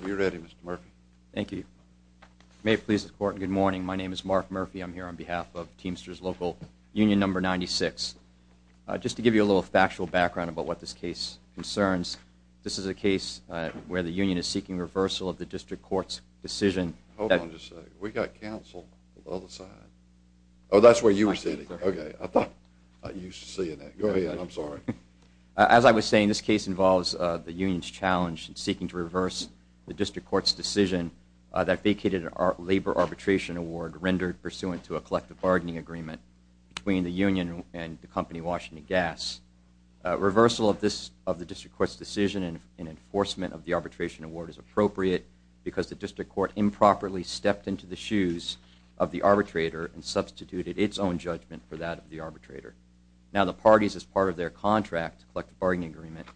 Are you ready Mr. Murphy? Thank you. May it please the court, good morning. My name is Mark Murphy. I'm here on behalf of Teamsters local union number 96. Just to give you a little factual background about what this case concerns, this is a case where the union is seeking reversal of the district court's decision. Hold on just a second. We got counsel on the other side. Oh, that's where you were sitting. Okay. I thought I used to see you there. Go ahead, I'm sorry. As I was saying, this case involves the union's challenge in seeking to reverse the district court's decision that vacated a labor arbitration award rendered pursuant to a collective bargaining agreement between the union and the company Washington Gas. Reversal of the district court's decision and enforcement of the arbitration award is appropriate because the district court improperly stepped into the shoes of the arbitrator and substituted its own judgment for that of the arbitrator. Now the parties as part of their contract, collective bargaining agreement,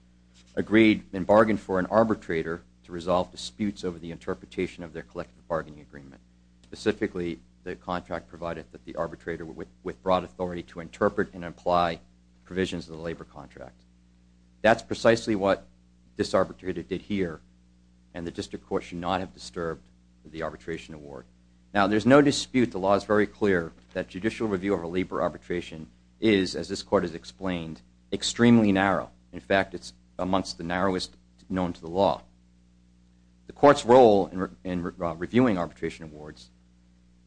agreed and bargained for an arbitrator to resolve disputes over the interpretation of their collective bargaining agreement. Specifically, the contract provided that the arbitrator with broad authority to interpret and apply provisions of the labor contract. That's precisely what this arbitrator did here and the district court should not have disturbed the arbitration award. Now there's no dispute. The law is very clear that judicial review of a labor arbitration is, as this court has explained, extremely narrow. In fact, it's amongst the narrowest known to the law. The court's role in reviewing arbitration awards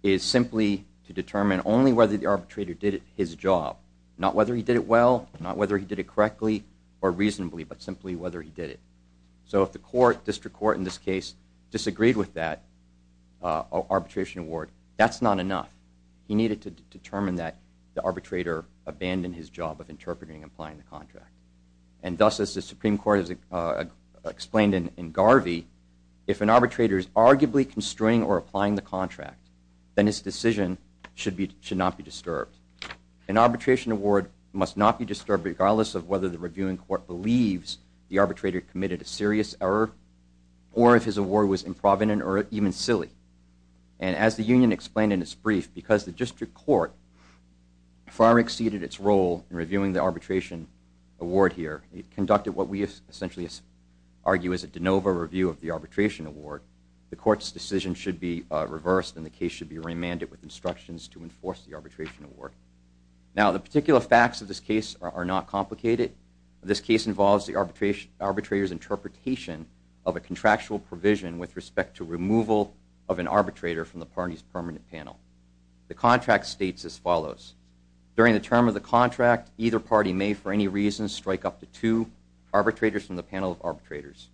is simply to determine only whether the arbitrator did his job. Not whether he did it well, not whether he did it correctly or reasonably, but simply whether he did it. So if the court, district court in this case, disagreed with that arbitration award, that's not enough. He needed to determine that the arbitrator abandoned his job of interpreting and applying the contract. And thus, as the Supreme Court has explained in Garvey, if an arbitrator is arguably construing or applying the contract, then his decision should not be disturbed. An arbitration award must not be disturbed regardless of whether the reviewing court believes the arbitrator committed a serious error or if his award was improvident or even silly. And as the union explained in its brief, because the district court far exceeded its role in reviewing the arbitration award here, it conducted what we essentially argue is a de novo review of the arbitration award. The court's decision should be reversed and the case should be remanded with instructions to enforce the arbitration award. Now, the particular facts of this case are not complicated. This case involves the arbitrator's interpretation of a contractual provision with respect to removal of an arbitrator from the party's permanent panel. The contract states as follows. During the term of the contract, either party may for any reason strike up to two arbitrators from the panel of arbitrators.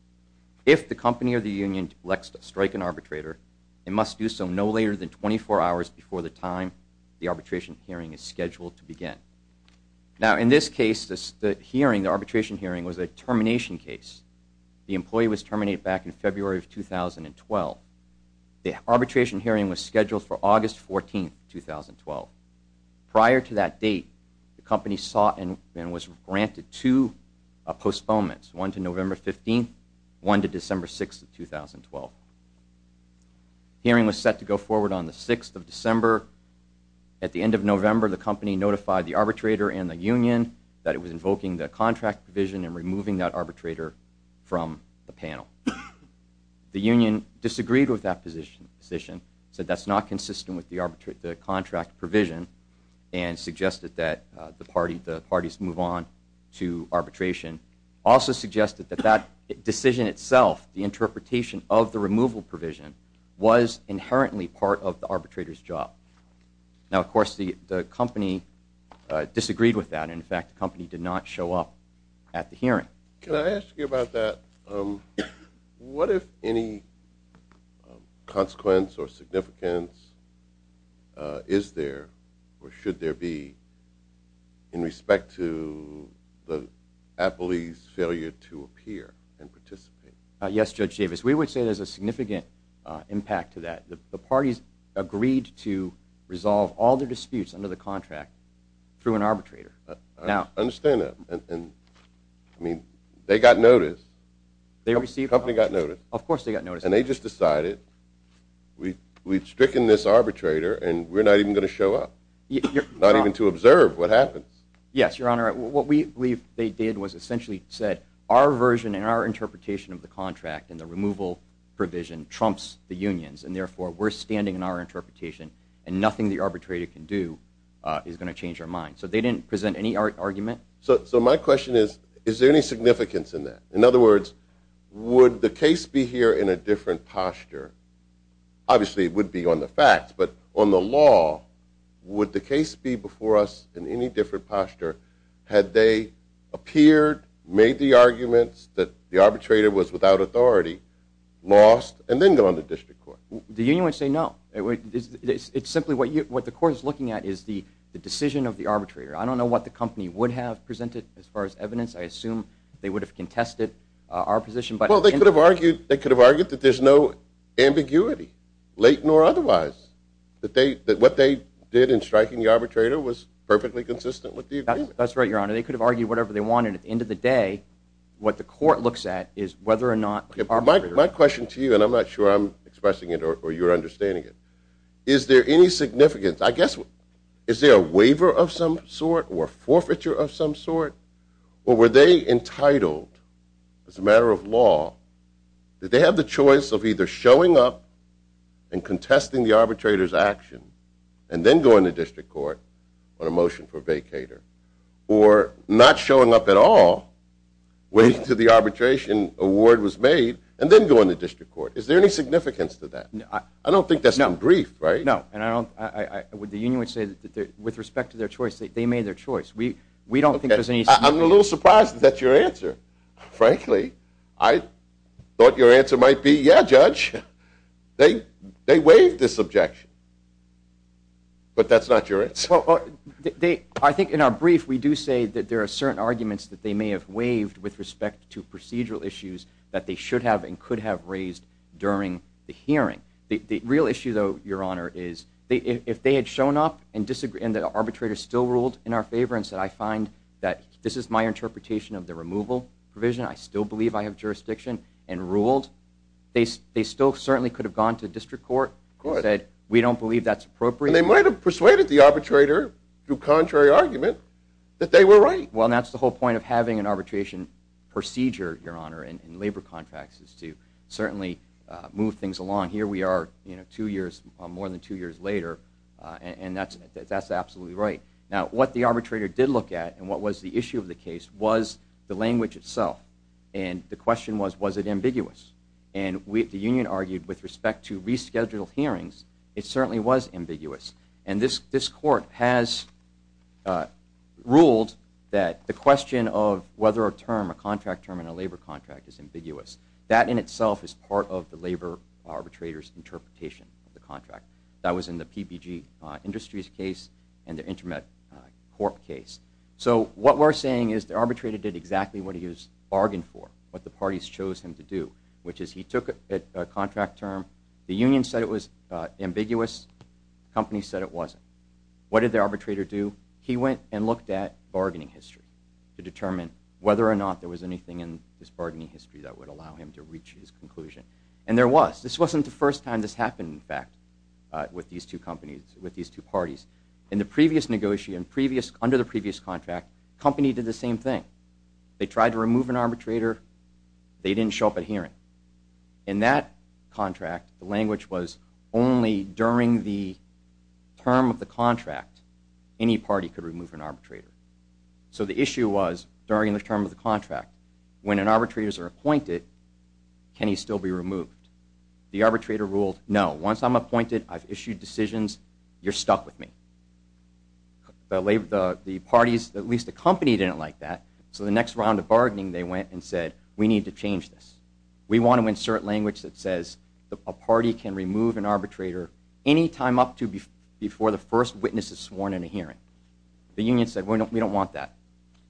If the company or the union elects to strike an arbitrator, it must do so no later than 24 hours before the time the arbitration hearing is scheduled to begin. Now, in this case, the arbitration hearing was a termination case. The employee was terminated back in February of 2012. The arbitration hearing was scheduled for August 14, 2012. Prior to that date, the company sought and was granted two postponements, one to November 15, one to December 6, 2012. The hearing was set to go forward on the 6th of December. At the end of November, the company notified the arbitrator and the union that it was invoking the contract provision and removing that arbitrator from the panel. The union disagreed with that position, said that's not consistent with the contract provision, and suggested that the parties move on to arbitration. It also suggested that that decision itself, the interpretation of the removal provision, was inherently part of the arbitrator's job. Now, of course, the company disagreed with that. In fact, the company did not show up at the hearing. Can I ask you about that? What, if any, consequence or significance is there or should there be in respect to the employee's failure to appear and participate? Yes, Judge Davis. We would say there's a significant impact to that. The parties agreed to resolve all their disputes under the contract through an arbitrator. I understand that. I mean, they got notice. The company got notice. Of course they got notice. And they just decided we've stricken this arbitrator and we're not even going to show up. Not even to observe what happens. Yes, Your Honor. What we believe they did was essentially said our version and our interpretation of the contract and the removal provision trumps the union's, and therefore we're standing in our interpretation and nothing the arbitrator can do is going to change our mind. So they didn't present any argument. So my question is, is there any significance in that? In other words, would the case be here in a different posture? Obviously it would be on the facts, but on the law, would the case be before us in any different posture? Had they appeared, made the arguments that the arbitrator was without authority, lost, and then gone to district court? The union would say no. It's simply what the court is looking at is the decision of the arbitrator. I don't know what the company would have presented as far as evidence. I assume they would have contested our position. Well, they could have argued that there's no ambiguity, late nor otherwise, that what they did in striking the arbitrator was perfectly consistent with the agreement. That's right, Your Honor. They could have argued whatever they wanted. At the end of the day, what the court looks at is whether or not the arbitrator My question to you, and I'm not sure I'm expressing it or you're understanding it. Is there any significance? I guess, is there a waiver of some sort or forfeiture of some sort? Or were they entitled, as a matter of law, did they have the choice of either showing up and contesting the arbitrator's action and then going to district court on a motion for vacator? Or not showing up at all, waiting until the arbitration award was made, and then going to district court? Is there any significance to that? I don't think that's been briefed, right? No. The union would say that with respect to their choice, they made their choice. We don't think there's any significance. I'm a little surprised that that's your answer. Frankly, I thought your answer might be, yeah, Judge. They waived this objection. But that's not your answer. I think in our brief, we do say that there are certain arguments that they may have waived with respect to procedural issues that they should have and could have raised during the hearing. The real issue, though, Your Honor, is if they had shown up and the arbitrator still ruled in our favor and said, I find that this is my interpretation of the removal provision, I still believe I have jurisdiction, and ruled, they still certainly could have gone to district court and said, we don't believe that's appropriate. And they might have persuaded the arbitrator, through contrary argument, that they were right. Well, that's the whole point of having an arbitration procedure, Your Honor, in labor contracts is to certainly move things along. Here we are more than two years later, and that's absolutely right. Now, what the arbitrator did look at and what was the issue of the case was the language itself. And the question was, was it ambiguous? And the union argued with respect to rescheduled hearings, it certainly was ambiguous. And this court has ruled that the question of whether a term, a contract term in a labor contract, is ambiguous, that in itself is part of the labor arbitrator's interpretation of the contract. That was in the PPG Industries case and the Intermet Corp case. So what we're saying is the arbitrator did exactly what he was bargained for, what the parties chose him to do, which is he took a contract term, the union said it was ambiguous, the company said it wasn't. What did the arbitrator do? He went and looked at bargaining history to determine whether or not there was anything in this bargaining history that would allow him to reach his conclusion. And there was. This wasn't the first time this happened, in fact, with these two companies, with these two parties. In the previous negotiation, under the previous contract, the company did the same thing. They tried to remove an arbitrator. They didn't show up at hearing. In that contract, the language was only during the term of the contract, any party could remove an arbitrator. So the issue was, during the term of the contract, when an arbitrator is appointed, can he still be removed? The arbitrator ruled, no, once I'm appointed, I've issued decisions, you're stuck with me. The parties, at least the company, didn't like that, so the next round of bargaining, they went and said, we need to change this. We want to insert language that says a party can remove an arbitrator any time up to before the first witness is sworn in a hearing. The union said, we don't want that.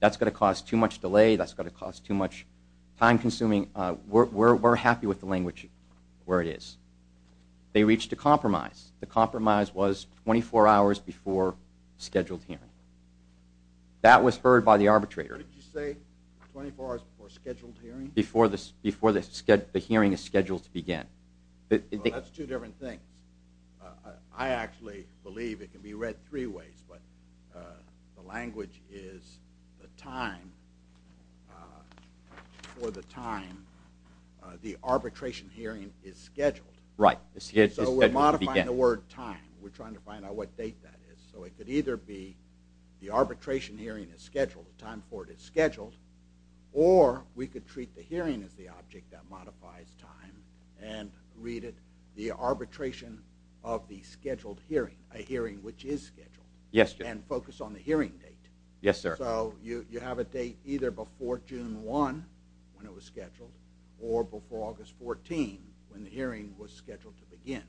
That's going to cause too much delay. That's going to cause too much time consuming. We're happy with the language where it is. They reached a compromise. The compromise was 24 hours before scheduled hearing. That was heard by the arbitrator. What did you say? 24 hours before scheduled hearing? Before the hearing is scheduled to begin. That's two different things. I actually believe it can be read three ways, but the language is the time for the time the arbitration hearing is scheduled. Right. So we're modifying the word time. We're trying to find out what date that is. So it could either be the arbitration hearing is scheduled, the time for it is scheduled, or we could treat the hearing as the object that modifies time and read it the arbitration of the scheduled hearing, a hearing which is scheduled. Yes, sir. And focus on the hearing date. Yes, sir. So you have a date either before June 1 when it was scheduled or before August 14 when the hearing was scheduled to begin.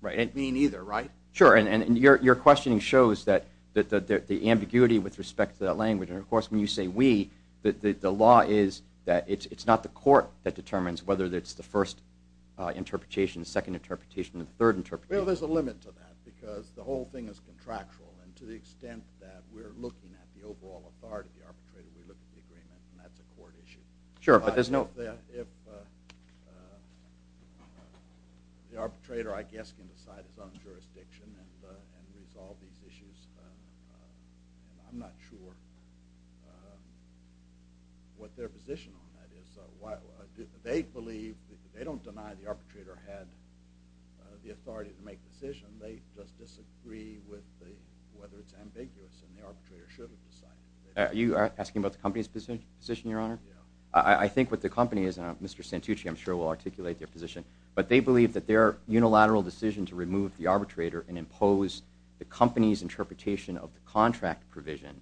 Right. It could mean either, right? Sure. And your questioning shows that the ambiguity with respect to that language, and, of course, when you say we, the law is that it's not the court that determines whether it's the first interpretation, the second interpretation, or the third interpretation. Well, there's a limit to that because the whole thing is contractual, and to the extent that we're looking at the overall authority of the arbitrator, we look at the agreement, and that's a court issue. Sure, but there's no— The arbitrator, I guess, can decide his own jurisdiction and resolve these issues. I'm not sure what their position on that is. They believe, they don't deny the arbitrator had the authority to make the decision. They just disagree with whether it's ambiguous, and the arbitrator should have decided. Are you asking about the company's position, Your Honor? Yeah. I think what the company is, and Mr. Santucci, I'm sure, will articulate their position, but they believe that their unilateral decision to remove the arbitrator and impose the company's interpretation of the contract provision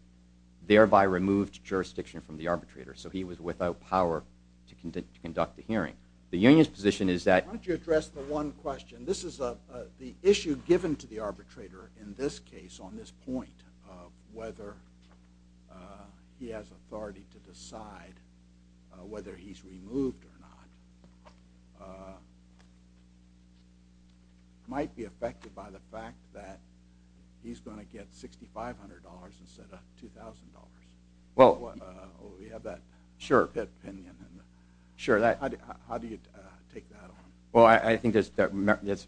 thereby removed jurisdiction from the arbitrator, so he was without power to conduct the hearing. The union's position is that— Why don't you address the one question? This is the issue given to the arbitrator in this case, on this point, whether he has authority to decide whether he's removed or not. It might be affected by the fact that he's going to get $6,500 instead of $2,000. We have that opinion. How do you take that on? Well, I think that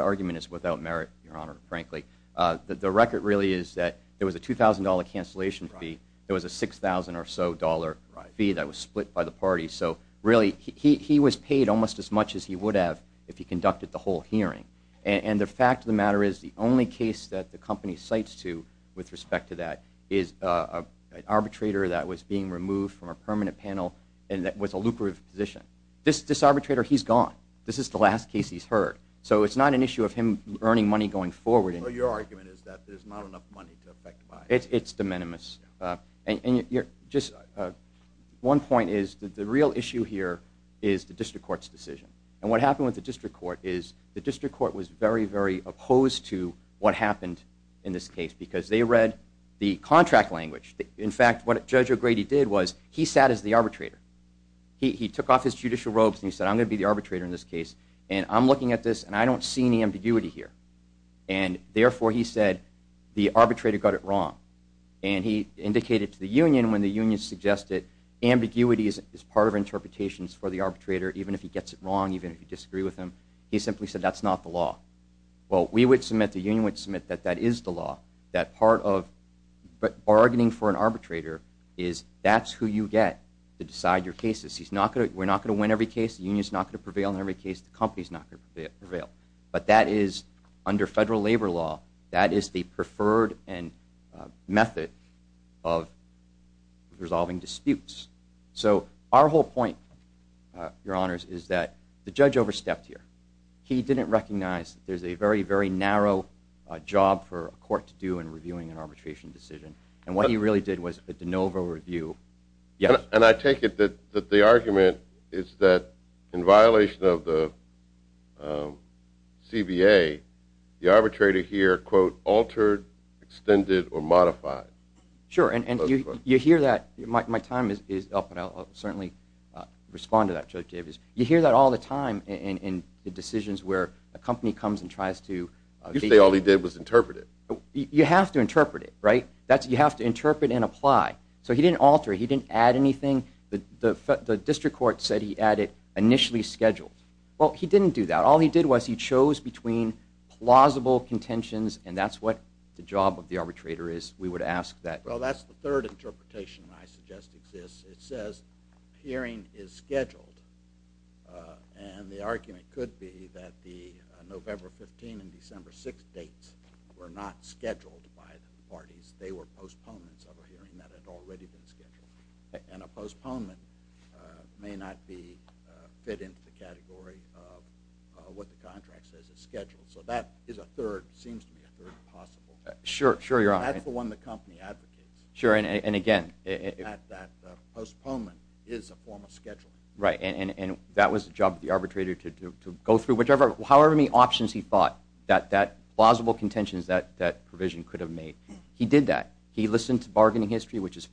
argument is without merit, Your Honor, frankly. The record really is that there was a $2,000 cancellation fee. There was a $6,000 or so fee that was split by the party. So really, he was paid almost as much as he would have if he conducted the whole hearing. And the fact of the matter is the only case that the company cites to with respect to that is an arbitrator that was being removed from a permanent panel and that was a lucrative position. This arbitrator, he's gone. This is the last case he's heard. So it's not an issue of him earning money going forward. So your argument is that there's not enough money to affect buy-in. It's de minimis. One point is that the real issue here is the district court's decision. And what happened with the district court is the district court was very, very opposed to what happened in this case because they read the contract language. In fact, what Judge O'Grady did was he sat as the arbitrator. He took off his judicial robes and he said, I'm going to be the arbitrator in this case. And I'm looking at this and I don't see any ambiguity here. And therefore, he said the arbitrator got it wrong. And he indicated to the union when the union suggested ambiguity is part of interpretations for the arbitrator even if he gets it wrong, even if you disagree with him. He simply said that's not the law. Well, we would submit, the union would submit that that is the law, that part of bargaining for an arbitrator is that's who you get to decide your cases. We're not going to win every case. The union is not going to prevail in every case. The company is not going to prevail. But that is, under federal labor law, that is the preferred method of resolving disputes. So our whole point, Your Honors, is that the judge overstepped here. He didn't recognize there's a very, very narrow job for a court to do in reviewing an arbitration decision. And what he really did was a de novo review. And I take it that the argument is that in violation of the CBA, the arbitrator here, quote, altered, extended, or modified. Sure, and you hear that. My time is up, and I'll certainly respond to that, Judge Davis. You hear that all the time in decisions where a company comes and tries to— You say all he did was interpret it. You have to interpret it, right? You have to interpret and apply. So he didn't alter it. He didn't add anything. The district court said he added initially scheduled. Well, he didn't do that. All he did was he chose between plausible contentions, and that's what the job of the arbitrator is. We would ask that— Well, that's the third interpretation I suggest exists. It says hearing is scheduled. And the argument could be that the November 15 and December 6 dates were not scheduled by the parties. They were postponements of a hearing that had already been scheduled. And a postponement may not fit into the category of what the contract says is scheduled. So that is a third—seems to me a third possible. Sure, you're on it. That's the one the company advocates. Sure, and again— That postponement is a form of scheduling. Right, and that was the job of the arbitrator to go through however many options he thought, that plausible contentions that provision could have made. He did that. He listened to bargaining history, which is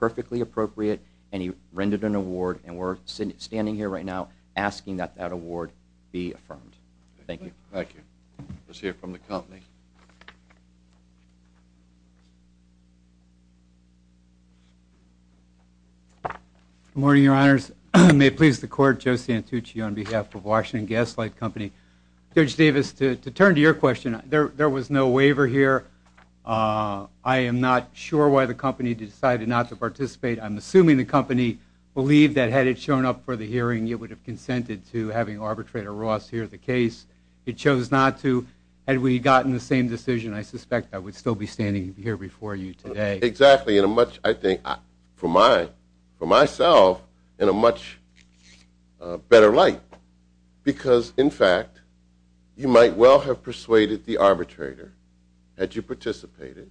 perfectly appropriate, and he rendered an award. And we're standing here right now asking that that award be affirmed. Thank you. Thank you. Let's hear from the company. Good morning, Your Honors. May it please the Court, Joe Santucci on behalf of Washington Gaslight Company. Judge Davis, to turn to your question, there was no waiver here. I am not sure why the company decided not to participate. I'm assuming the company believed that had it shown up for the hearing, it would have consented to having Arbitrator Ross hear the case. It chose not to. Had we gotten the same decision, I suspect I would still be standing here before you today. Exactly. And much, I think, for myself, in a much better light. Because, in fact, you might well have persuaded the arbitrator, had you participated,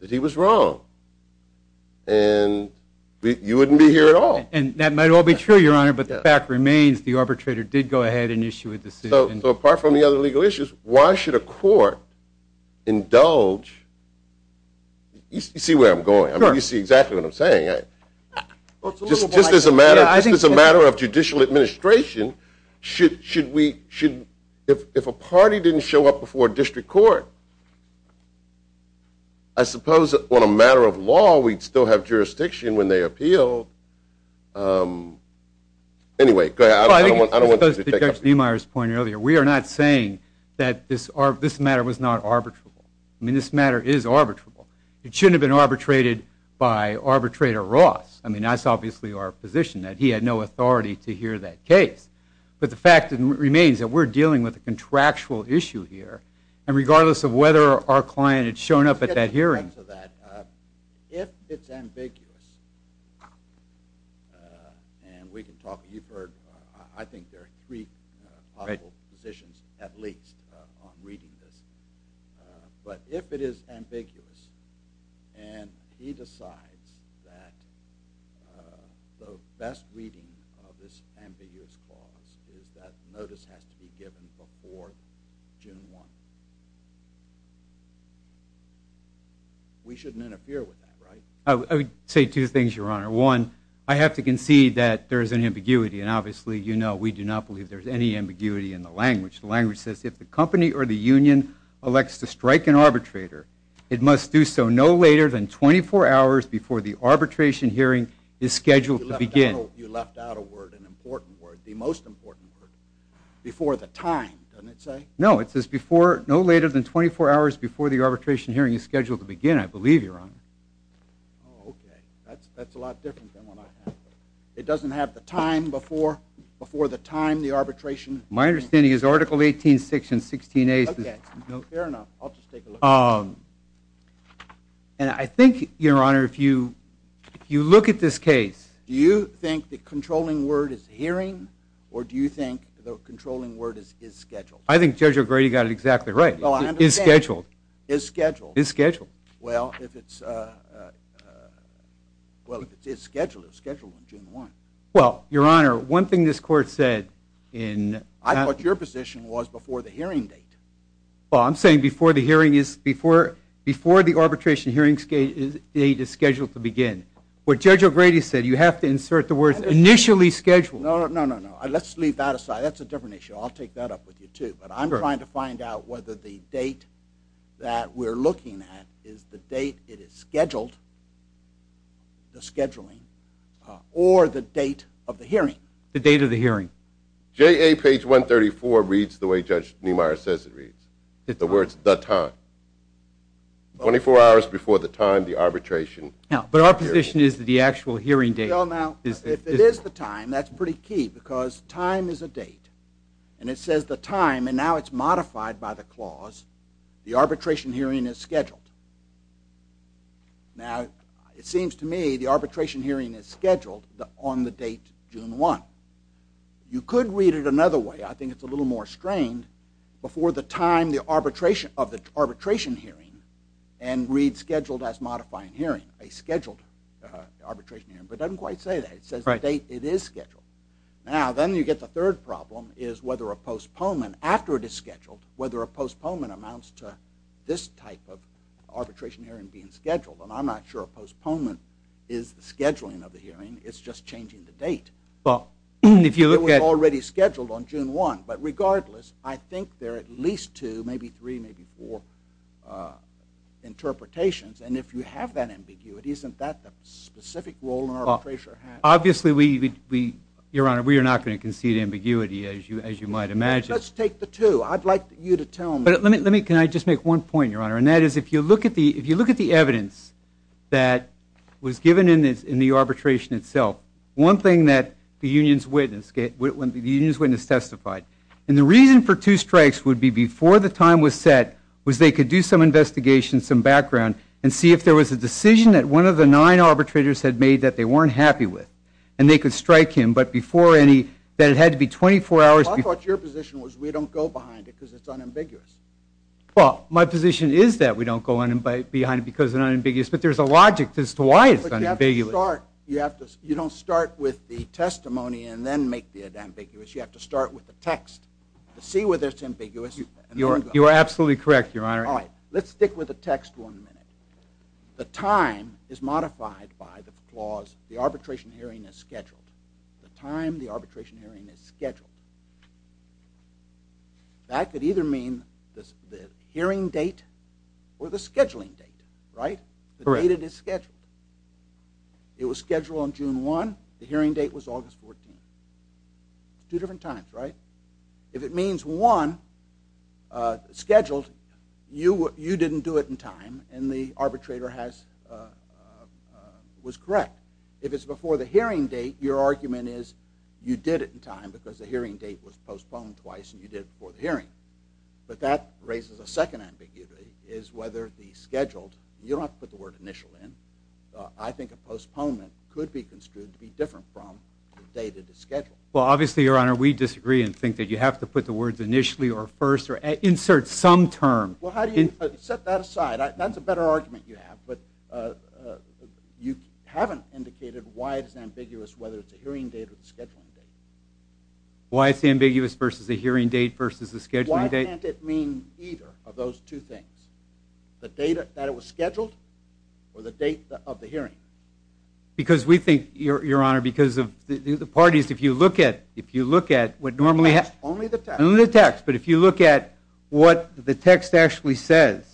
that he was wrong. And you wouldn't be here at all. And that might all be true, Your Honor, but the fact remains the arbitrator did go ahead and issue a decision. So apart from the other legal issues, why should a court indulge? You see where I'm going. You see exactly what I'm saying. Just as a matter of judicial administration, if a party didn't show up before a district court, I suppose on a matter of law, we'd still have jurisdiction when they appeal. Anyway, go ahead. I don't want you to take up. I think it goes to Judge Niemeyer's point earlier. We are not saying that this matter was not arbitrable. I mean, this matter is arbitrable. It shouldn't have been arbitrated by Arbitrator Ross. I mean, that's obviously our position, that he had no authority to hear that case. But the fact remains that we're dealing with a contractual issue here, and regardless of whether our client had shown up at that hearing. Let's get to the crux of that. If it's ambiguous, and we can talk. You've heard, I think, there are three possible positions, at least, on reading this. But if it is ambiguous, and he decides that the best reading of this ambiguous clause is that notice has to be given before June 1, we shouldn't interfere with that, right? I would say two things, Your Honor. One, I have to concede that there is an ambiguity, and obviously, you know, we do not believe there's any ambiguity in the language. The language says, if the company or the union elects to strike an arbitrator, it must do so no later than 24 hours before the arbitration hearing is scheduled to begin. You left out a word, an important word, the most important word. Before the time, doesn't it say? No, it says no later than 24 hours before the arbitration hearing is scheduled to begin, I believe, Your Honor. Oh, okay. That's a lot different than what I have. It doesn't have the time before the time, the arbitration. My understanding is Article 18, Section 16A says no. Okay, fair enough. I'll just take a look. And I think, Your Honor, if you look at this case. Do you think the controlling word is hearing, or do you think the controlling word is scheduled? I think Judge O'Grady got it exactly right. It is scheduled. It is scheduled. It is scheduled. Well, if it's scheduled, it was scheduled on June 1. Well, Your Honor, one thing this court said in that. I thought your position was before the hearing date. Well, I'm saying before the arbitration hearing date is scheduled to begin. What Judge O'Grady said, you have to insert the words initially scheduled. No, no, no, no. Let's leave that aside. That's a different issue. I'll take that up with you, too. But I'm trying to find out whether the date that we're looking at is the date it is scheduled, the scheduling, or the date of the hearing. The date of the hearing. JA page 134 reads the way Judge Niemeyer says it reads. The words, the time. Twenty-four hours before the time the arbitration hearing. But our position is that the actual hearing date. Well, now, if it is the time, that's pretty key because time is a date. And it says the time, and now it's modified by the clause, the arbitration hearing is scheduled. Now, it seems to me the arbitration hearing is scheduled on the date June 1. You could read it another way. I think it's a little more strained. Before the time of the arbitration hearing and read scheduled as modifying hearing. A scheduled arbitration hearing. But it doesn't quite say that. It says the date it is scheduled. Now, then you get the third problem is whether a postponement after it is scheduled, whether a postponement amounts to this type of arbitration hearing being scheduled. And I'm not sure a postponement is the scheduling of the hearing. It's just changing the date. Well, if you look at. It was already scheduled on June 1. But regardless, I think there are at least two, maybe three, maybe four interpretations. And if you have that ambiguity, isn't that the specific role an arbitrator has? Obviously, we, Your Honor, we are not going to concede ambiguity as you might imagine. Let's take the two. I'd like you to tell me. Can I just make one point, Your Honor? And that is if you look at the evidence that was given in the arbitration itself, one thing that the union's witness testified. And the reason for two strikes would be before the time was set was they could do some investigation, some background, and see if there was a decision that one of the nine arbitrators had made that they weren't happy with. And they could strike him. But before any, that it had to be 24 hours. Well, I thought your position was we don't go behind it because it's unambiguous. Well, my position is that we don't go behind it because it's unambiguous. But there's a logic as to why it's unambiguous. But you have to start. You don't start with the testimony and then make it ambiguous. You have to start with the text to see whether it's ambiguous. You are absolutely correct, Your Honor. All right. Let's stick with the text one minute. The time is modified by the clause the arbitration hearing is scheduled. The time the arbitration hearing is scheduled. That could either mean the hearing date or the scheduling date, right? Correct. The date it is scheduled. It was scheduled on June 1. The hearing date was August 14. Two different times, right? If it means one scheduled, you didn't do it in time and the arbitrator was correct. If it's before the hearing date, your argument is you did it in time because the hearing date was postponed twice and you did it before the hearing. But that raises a second ambiguity is whether the scheduled, you don't have to put the word initial in, I think a postponement could be construed to be different from the date it is scheduled. Well, obviously, Your Honor, we disagree and think that you have to put the words initially or first or insert some term. Well, how do you set that aside? That's a better argument you have. But you haven't indicated why it's ambiguous whether it's a hearing date or a scheduling date. Why it's ambiguous versus a hearing date versus a scheduling date? Why can't it mean either of those two things? The date that it was scheduled or the date of the hearing? Because we think, Your Honor, because the parties, if you look at what normally happens. Only the text. Only the text. But if you look at what the text actually says,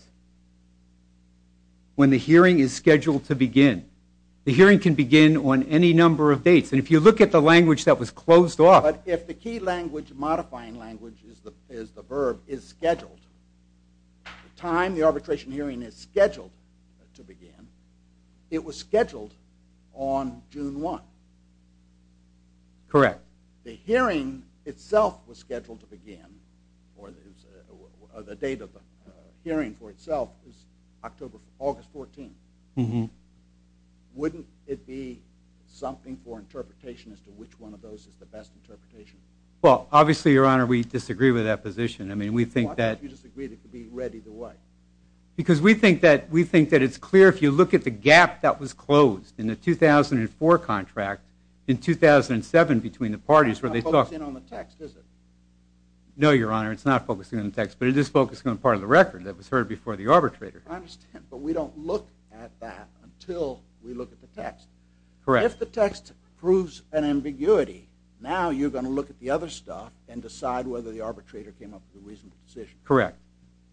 when the hearing is scheduled to begin, the hearing can begin on any number of dates. And if you look at the language that was closed off. But if the key language, modifying language is the verb, is scheduled, the time the arbitration hearing is scheduled to begin, it was scheduled on June 1. Correct. But the hearing itself was scheduled to begin, or the date of the hearing for itself is August 14. Wouldn't it be something for interpretation as to which one of those is the best interpretation? Well, obviously, Your Honor, we disagree with that position. I mean, we think that. Why would you disagree? It could be read either way. Because we think that it's clear if you look at the gap that was closed in the 2004 contract, in 2007 between the parties where they talked. It's not focusing on the text, is it? No, Your Honor. It's not focusing on the text. But it is focusing on part of the record that was heard before the arbitrator. I understand. But we don't look at that until we look at the text. Correct. If the text proves an ambiguity, now you're going to look at the other stuff and decide whether the arbitrator came up with a reasonable decision. Correct.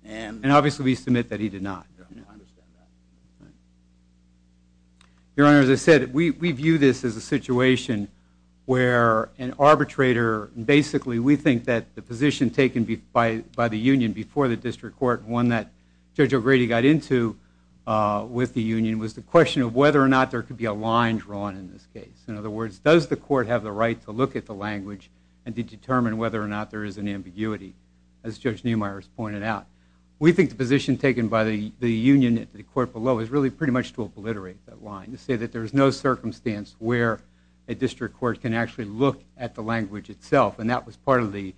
And obviously, we submit that he did not. I understand that. Your Honor, as I said, we view this as a situation where an arbitrator basically we think that the position taken by the union before the district court, one that Judge O'Grady got into with the union, was the question of whether or not there could be a line drawn in this case. In other words, does the court have the right to look at the language and to determine whether or not there is an ambiguity, as Judge Neumeier has pointed out. We think the position taken by the union at the court below is really pretty much to obliterate that line. To say that there is no circumstance where a district court can actually look at the language itself. And that was part of the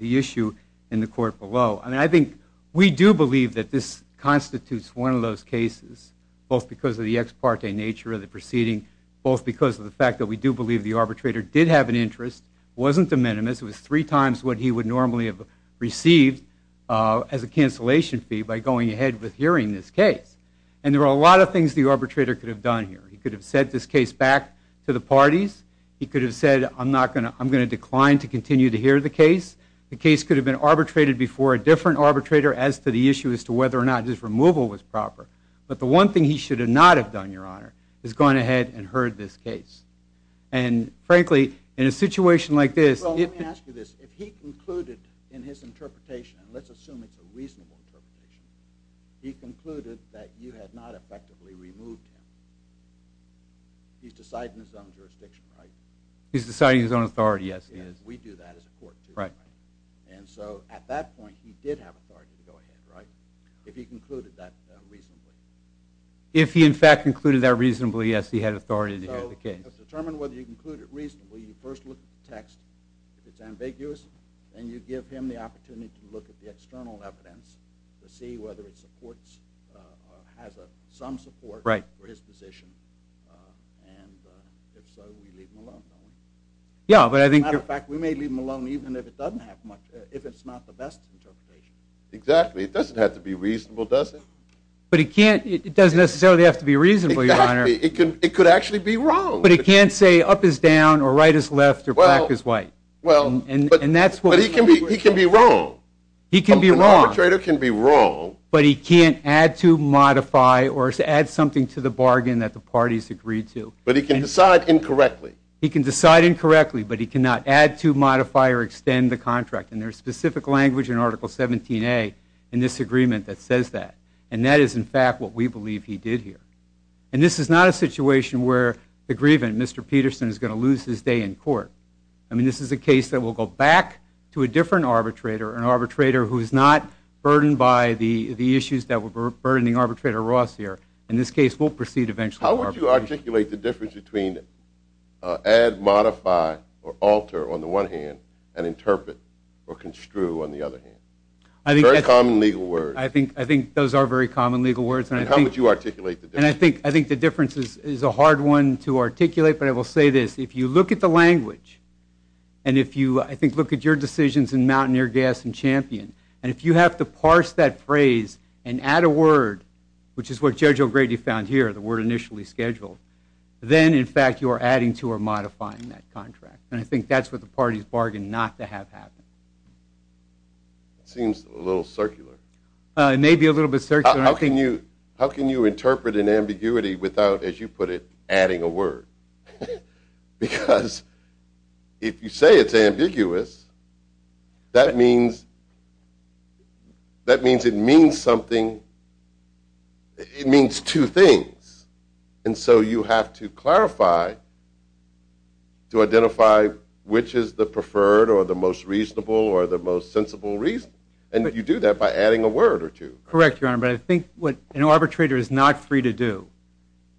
issue in the court below. And I think we do believe that this constitutes one of those cases, both because of the ex parte nature of the proceeding, both because of the fact that we do believe the arbitrator did have an interest, wasn't de minimis, it was three times what he would normally have received as a cancellation fee by going ahead with hearing this case. And there are a lot of things the arbitrator could have done here. He could have sent this case back to the parties. He could have said, I'm going to decline to continue to hear the case. The case could have been arbitrated before a different arbitrator as to the issue as to whether or not his removal was proper. But the one thing he should not have done, Your Honor, is gone ahead and heard this case. And frankly, in a situation like this... Well, let me ask you this. If he concluded in his interpretation, and let's assume it's a reasonable interpretation, he concluded that you had not effectively removed him, he's deciding his own jurisdiction, right? He's deciding his own authority, yes, he is. We do that as a court, too. And so at that point, he did have authority to go ahead, right? If he concluded that reasonably. If he, in fact, concluded that reasonably, yes, he had authority to hear the case. So to determine whether you conclude it reasonably, you first look at the text. If it's ambiguous, then you give him the opportunity to look at the external evidence to see whether it supports, has some support for his position. And if so, you leave him alone, don't you? Yeah, but I think... As a matter of fact, we may leave him alone even if it doesn't have much, if it's not the best interpretation. Exactly. It doesn't have to be reasonable, does it? But it can't, it doesn't necessarily have to be reasonable, Your Honor. It could actually be wrong. But it can't say up is down, or right is left, or black is white. Well, but he can be wrong. He can be wrong. An arbitrator can be wrong. But he can't add to, modify, or add something to the bargain that the parties agreed to. But he can decide incorrectly. He can decide incorrectly, but he cannot add to, modify, or extend the contract. And there's specific language in Article 17A in this agreement that says that. And that is, in fact, what we believe he did here. And this is not a situation where the grievant, Mr. Peterson, is going to lose his day in court. I mean, this is a case that will go back to a different arbitrator, an arbitrator who is not burdened by the issues that were burdening Arbitrator Ross here. In this case, we'll proceed eventually with arbitration. How would you articulate the difference between add, modify, or alter, on the one hand, and interpret, or construe, on the other hand? Very common legal words. I think those are very common legal words. And how would you articulate the difference? And I think the difference is a hard one to articulate, but I will say this. If you look at the language, and if you, I think, look at your decisions in Mountaineer, Gas, and Champion, and if you have to parse that phrase and add a word, which is what Judge O'Grady found here, the word initially scheduled, then, in fact, you are adding to or modifying that contract. And I think that's what the parties bargained not to have happen. It seems a little circular. It may be a little bit circular. How can you interpret an ambiguity without, as you put it, adding a word? Because if you say it's ambiguous, that means it means something. It means two things. And so you have to clarify to identify which is the preferred or the most reasonable or the most sensible reason. And you do that by adding a word or two. Correct, Your Honor. But I think what an arbitrator is not free to do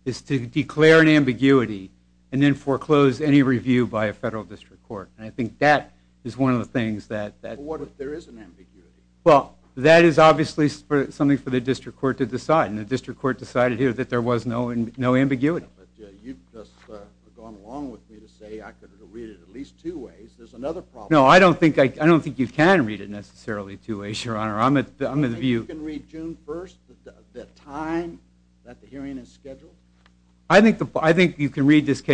is to declare an ambiguity and then foreclose any review by a federal district court. And I think that is one of the things that- But what if there is an ambiguity? Well, that is obviously something for the district court to decide, and the district court decided here that there was no ambiguity. But you've just gone along with me to say I could read it at least two ways. There's another problem. No, I don't think you can read it necessarily two ways, Your Honor. You think you can read June 1st, the time that the hearing is scheduled? I think you can read this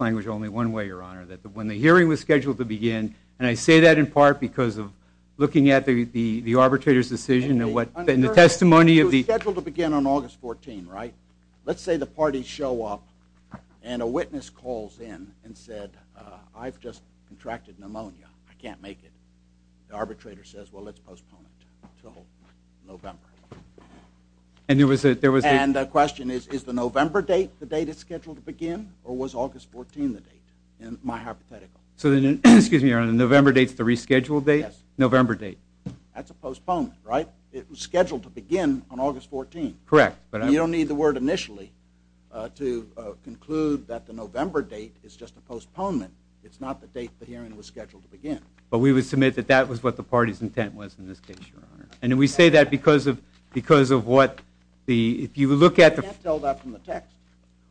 language only one way, Your Honor, that when the hearing was scheduled to begin, and I say that in part because of looking at the arbitrator's decision and the testimony of the- It was scheduled to begin on August 14th, right? Let's say the parties show up and a witness calls in and said, I've just contracted pneumonia. I can't make it. The arbitrator says, well, let's postpone it until November. And there was a- And the question is, is the November date the date it's scheduled to begin, or was August 14th the date? My hypothetical. Excuse me, Your Honor, the November date is the rescheduled date? Yes. November date. That's a postponement, right? It was scheduled to begin on August 14th. Correct. You don't need the word initially to conclude that the November date is just a postponement. It's not the date the hearing was scheduled to begin. But we would submit that that was what the party's intent was in this case, Your Honor. And we say that because of what the- You can't tell that from the text.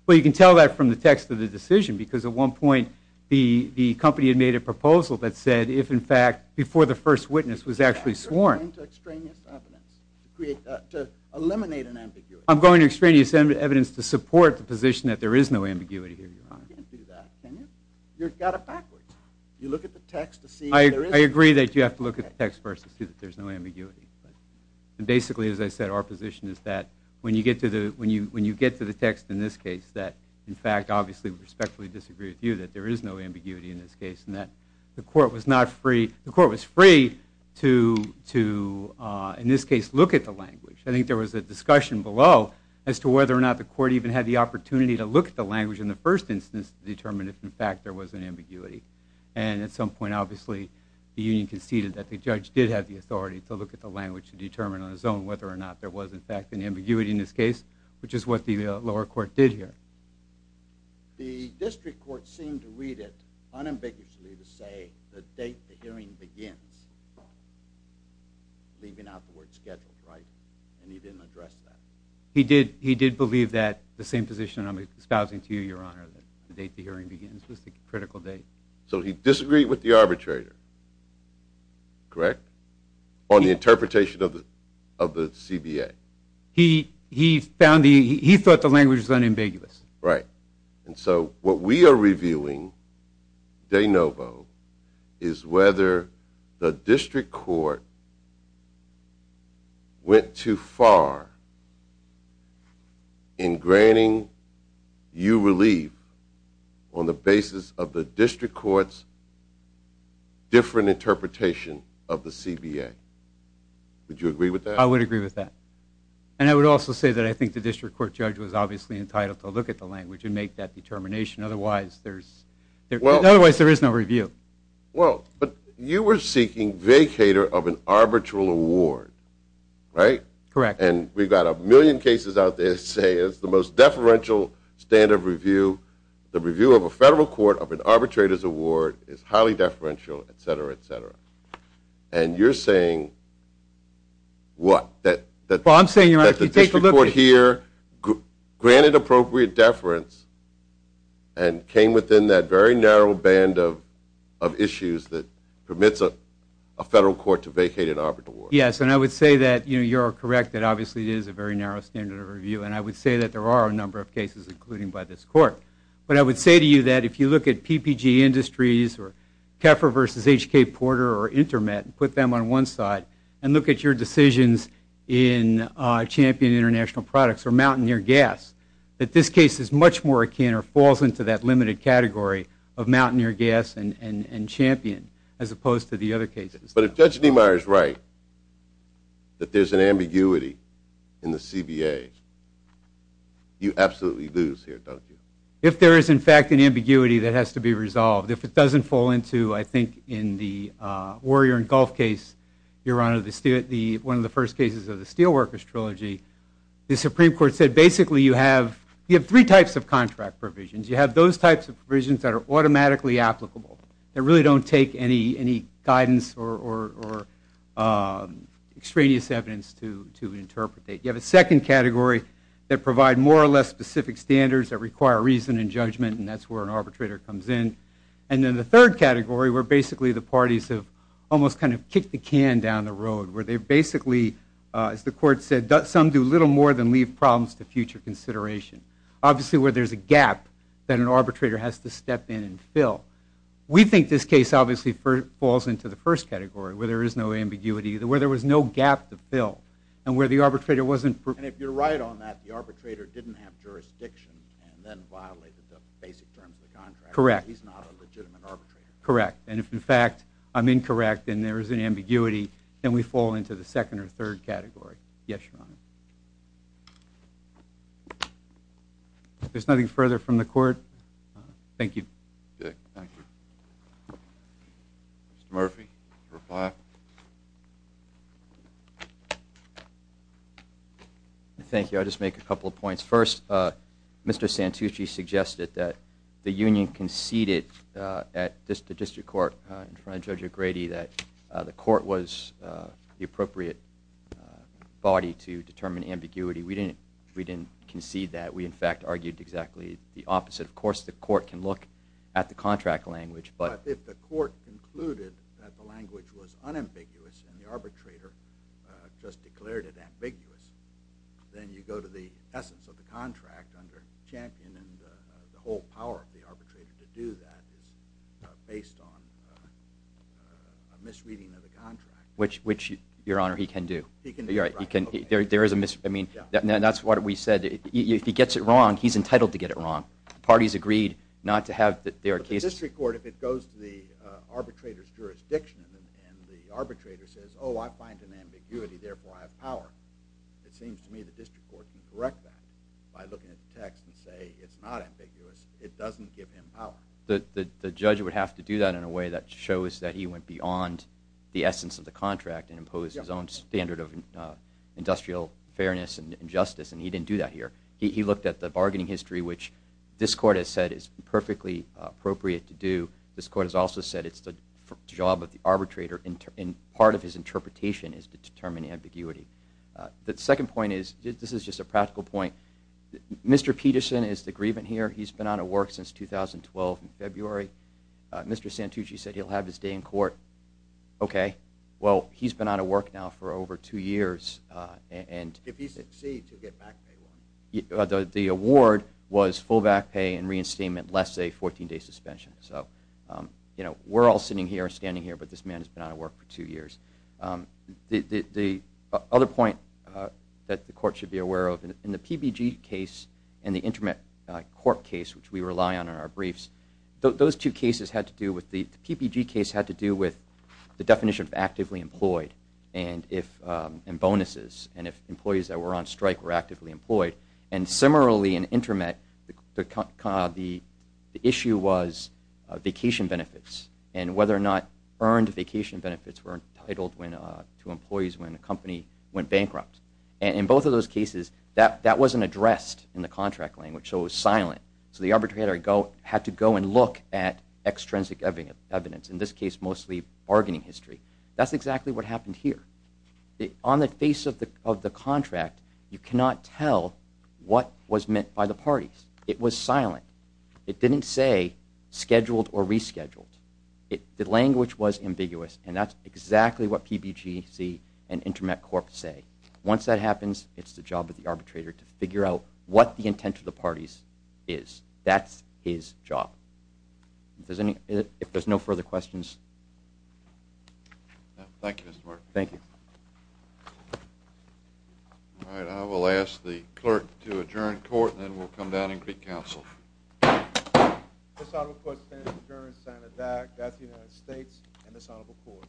Well, you can tell that from the text of the decision, because at one point the company had made a proposal that said, if in fact before the first witness was actually sworn- You're going to extraneous evidence to eliminate an ambiguity. I'm going to extraneous evidence to support the position that there is no ambiguity here, Your Honor. You can't do that, can you? You've got it backwards. You look at the text to see if there is- I agree that you have to look at the text first to see that there's no ambiguity. Basically, as I said, our position is that when you get to the text in this case, that, in fact, obviously we respectfully disagree with you that there is no ambiguity in this case, and that the court was not free- The court was free to, in this case, look at the language. I think there was a discussion below as to whether or not the court even had the opportunity to look at the language in the first instance to determine if, in fact, there was an ambiguity. And at some point, obviously, the union conceded that the judge did have the authority to look at the language to determine on his own whether or not there was, in fact, an ambiguity in this case, which is what the lower court did here. The district court seemed to read it unambiguously to say the date the hearing begins, leaving out the word scheduled, right? And he didn't address that? He did believe that the same position I'm espousing to you, Your Honor, that the date the hearing begins was the critical date. So he disagreed with the arbitrator, correct? On the interpretation of the CBA. He thought the language was unambiguous. Right. And so what we are reviewing, de novo, is whether the district court went too far in granting you relief on the basis of the district court's different interpretation of the CBA. Would you agree with that? I would agree with that. And I would also say that I think the district court judge was obviously entitled to look at the language and make that determination. Otherwise, there is no review. Well, but you were seeking vacator of an arbitral award, right? Correct. And we've got a million cases out there that say it's the most deferential standard of review. The review of a federal court of an arbitrator's award is highly deferential, et cetera, et cetera. And you're saying what? Well, I'm saying that the district court here granted appropriate deference and came within that very narrow band of issues that permits a federal court to vacate an arbitral award. Yes, and I would say that you are correct. It obviously is a very narrow standard of review. And I would say that there are a number of cases, including by this court. But I would say to you that if you look at PPG Industries or Keffer v. H.K. Porter or Intermet and put them on one side and look at your decisions in Champion International Products or Mountaineer Gas, that this case is much more akin or falls into that limited category of Mountaineer Gas and Champion as opposed to the other cases. But if Judge Niemeyer is right that there's an ambiguity in the CBA, you absolutely lose here, don't you? If there is, in fact, an ambiguity, that has to be resolved. If it doesn't fall into, I think, in the Warrior and Gulf case, Your Honor, one of the first cases of the Steelworkers Trilogy, the Supreme Court said basically you have three types of contract provisions. You have those types of provisions that are automatically applicable, that really don't take any guidance or extraneous evidence to interpretate. You have a second category that provide more or less specific standards that require reason and judgment, and that's where an arbitrator comes in. And then the third category where basically the parties have almost kind of kicked the can down the road, where they basically, as the Court said, some do little more than leave problems to future consideration, obviously where there's a gap that an arbitrator has to step in and fill. We think this case obviously falls into the first category where there is no ambiguity, where there was no gap to fill and where the arbitrator wasn't. And if you're right on that, the arbitrator didn't have jurisdiction and then violated the basic terms of the contract. Correct. He's not a legitimate arbitrator. Correct. And if, in fact, I'm incorrect and there is an ambiguity, then we fall into the second or third category. Yes, Your Honor. If there's nothing further from the Court, thank you. Thank you. Mr. Murphy, reply. Thank you. I'll just make a couple of points. First, Mr. Santucci suggested that the union conceded at the District Court in front of Judge O'Grady that the Court was the appropriate body to determine ambiguity. We didn't concede that. We, in fact, argued exactly the opposite. Of course, the Court can look at the contract language. But if the Court concluded that the language was unambiguous and the arbitrator just declared it ambiguous, then you go to the essence of the contract under Champion and the whole power of the arbitrator to do that is based on a misreading of the contract. Which, Your Honor, he can do. He can do that. That's what we said. If he gets it wrong, he's entitled to get it wrong. The parties agreed not to have that there are cases. But the District Court, if it goes to the arbitrator's jurisdiction and the arbitrator says, oh, I find an ambiguity, therefore I have power, it seems to me the District Court can correct that by looking at the text and saying it's not ambiguous. It doesn't give him power. The judge would have to do that in a way that shows that he went beyond the essence of the contract and imposed his own standard of industrial fairness and justice, and he didn't do that here. He looked at the bargaining history, which this Court has said is perfectly appropriate to do. This Court has also said it's the job of the arbitrator and part of his interpretation is to determine ambiguity. The second point is, this is just a practical point, Mr. Peterson is the grievant here. He's been out of work since 2012 in February. Mr. Santucci said he'll have his day in court. Okay. Well, he's been out of work now for over two years. If he succeeds, he'll get back pay. The award was full back pay and reinstatement, less a 14-day suspension. So, you know, we're all sitting here and standing here, but this man has been out of work for two years. The other point that the Court should be aware of, in the PBG case and the Intermittent Court case, which we rely on in our briefs, those two cases had to do with, the PBG case had to do with the definition of actively employed and bonuses and if employees that were on strike were actively employed. And similarly in Intermittent, the issue was vacation benefits and whether or not earned vacation benefits were entitled to employees when a company went bankrupt. In both of those cases, that wasn't addressed in the contract language, so it was silent. So the arbitrator had to go and look at extrinsic evidence, in this case mostly bargaining history. That's exactly what happened here. On the face of the contract, you cannot tell what was meant by the parties. It was silent. It didn't say scheduled or rescheduled. The language was ambiguous and that's exactly what PBGC and Intermittent Court say. Once that happens, it's the job of the arbitrator to figure out what the intent of the parties is. That's his job. If there's no further questions. Thank you, Mr. Mark. Thank you. All right, I will ask the clerk to adjourn court and then we'll come down and greet counsel. This honorable court stands adjourned, signed and dagged. That's the United States and this honorable court.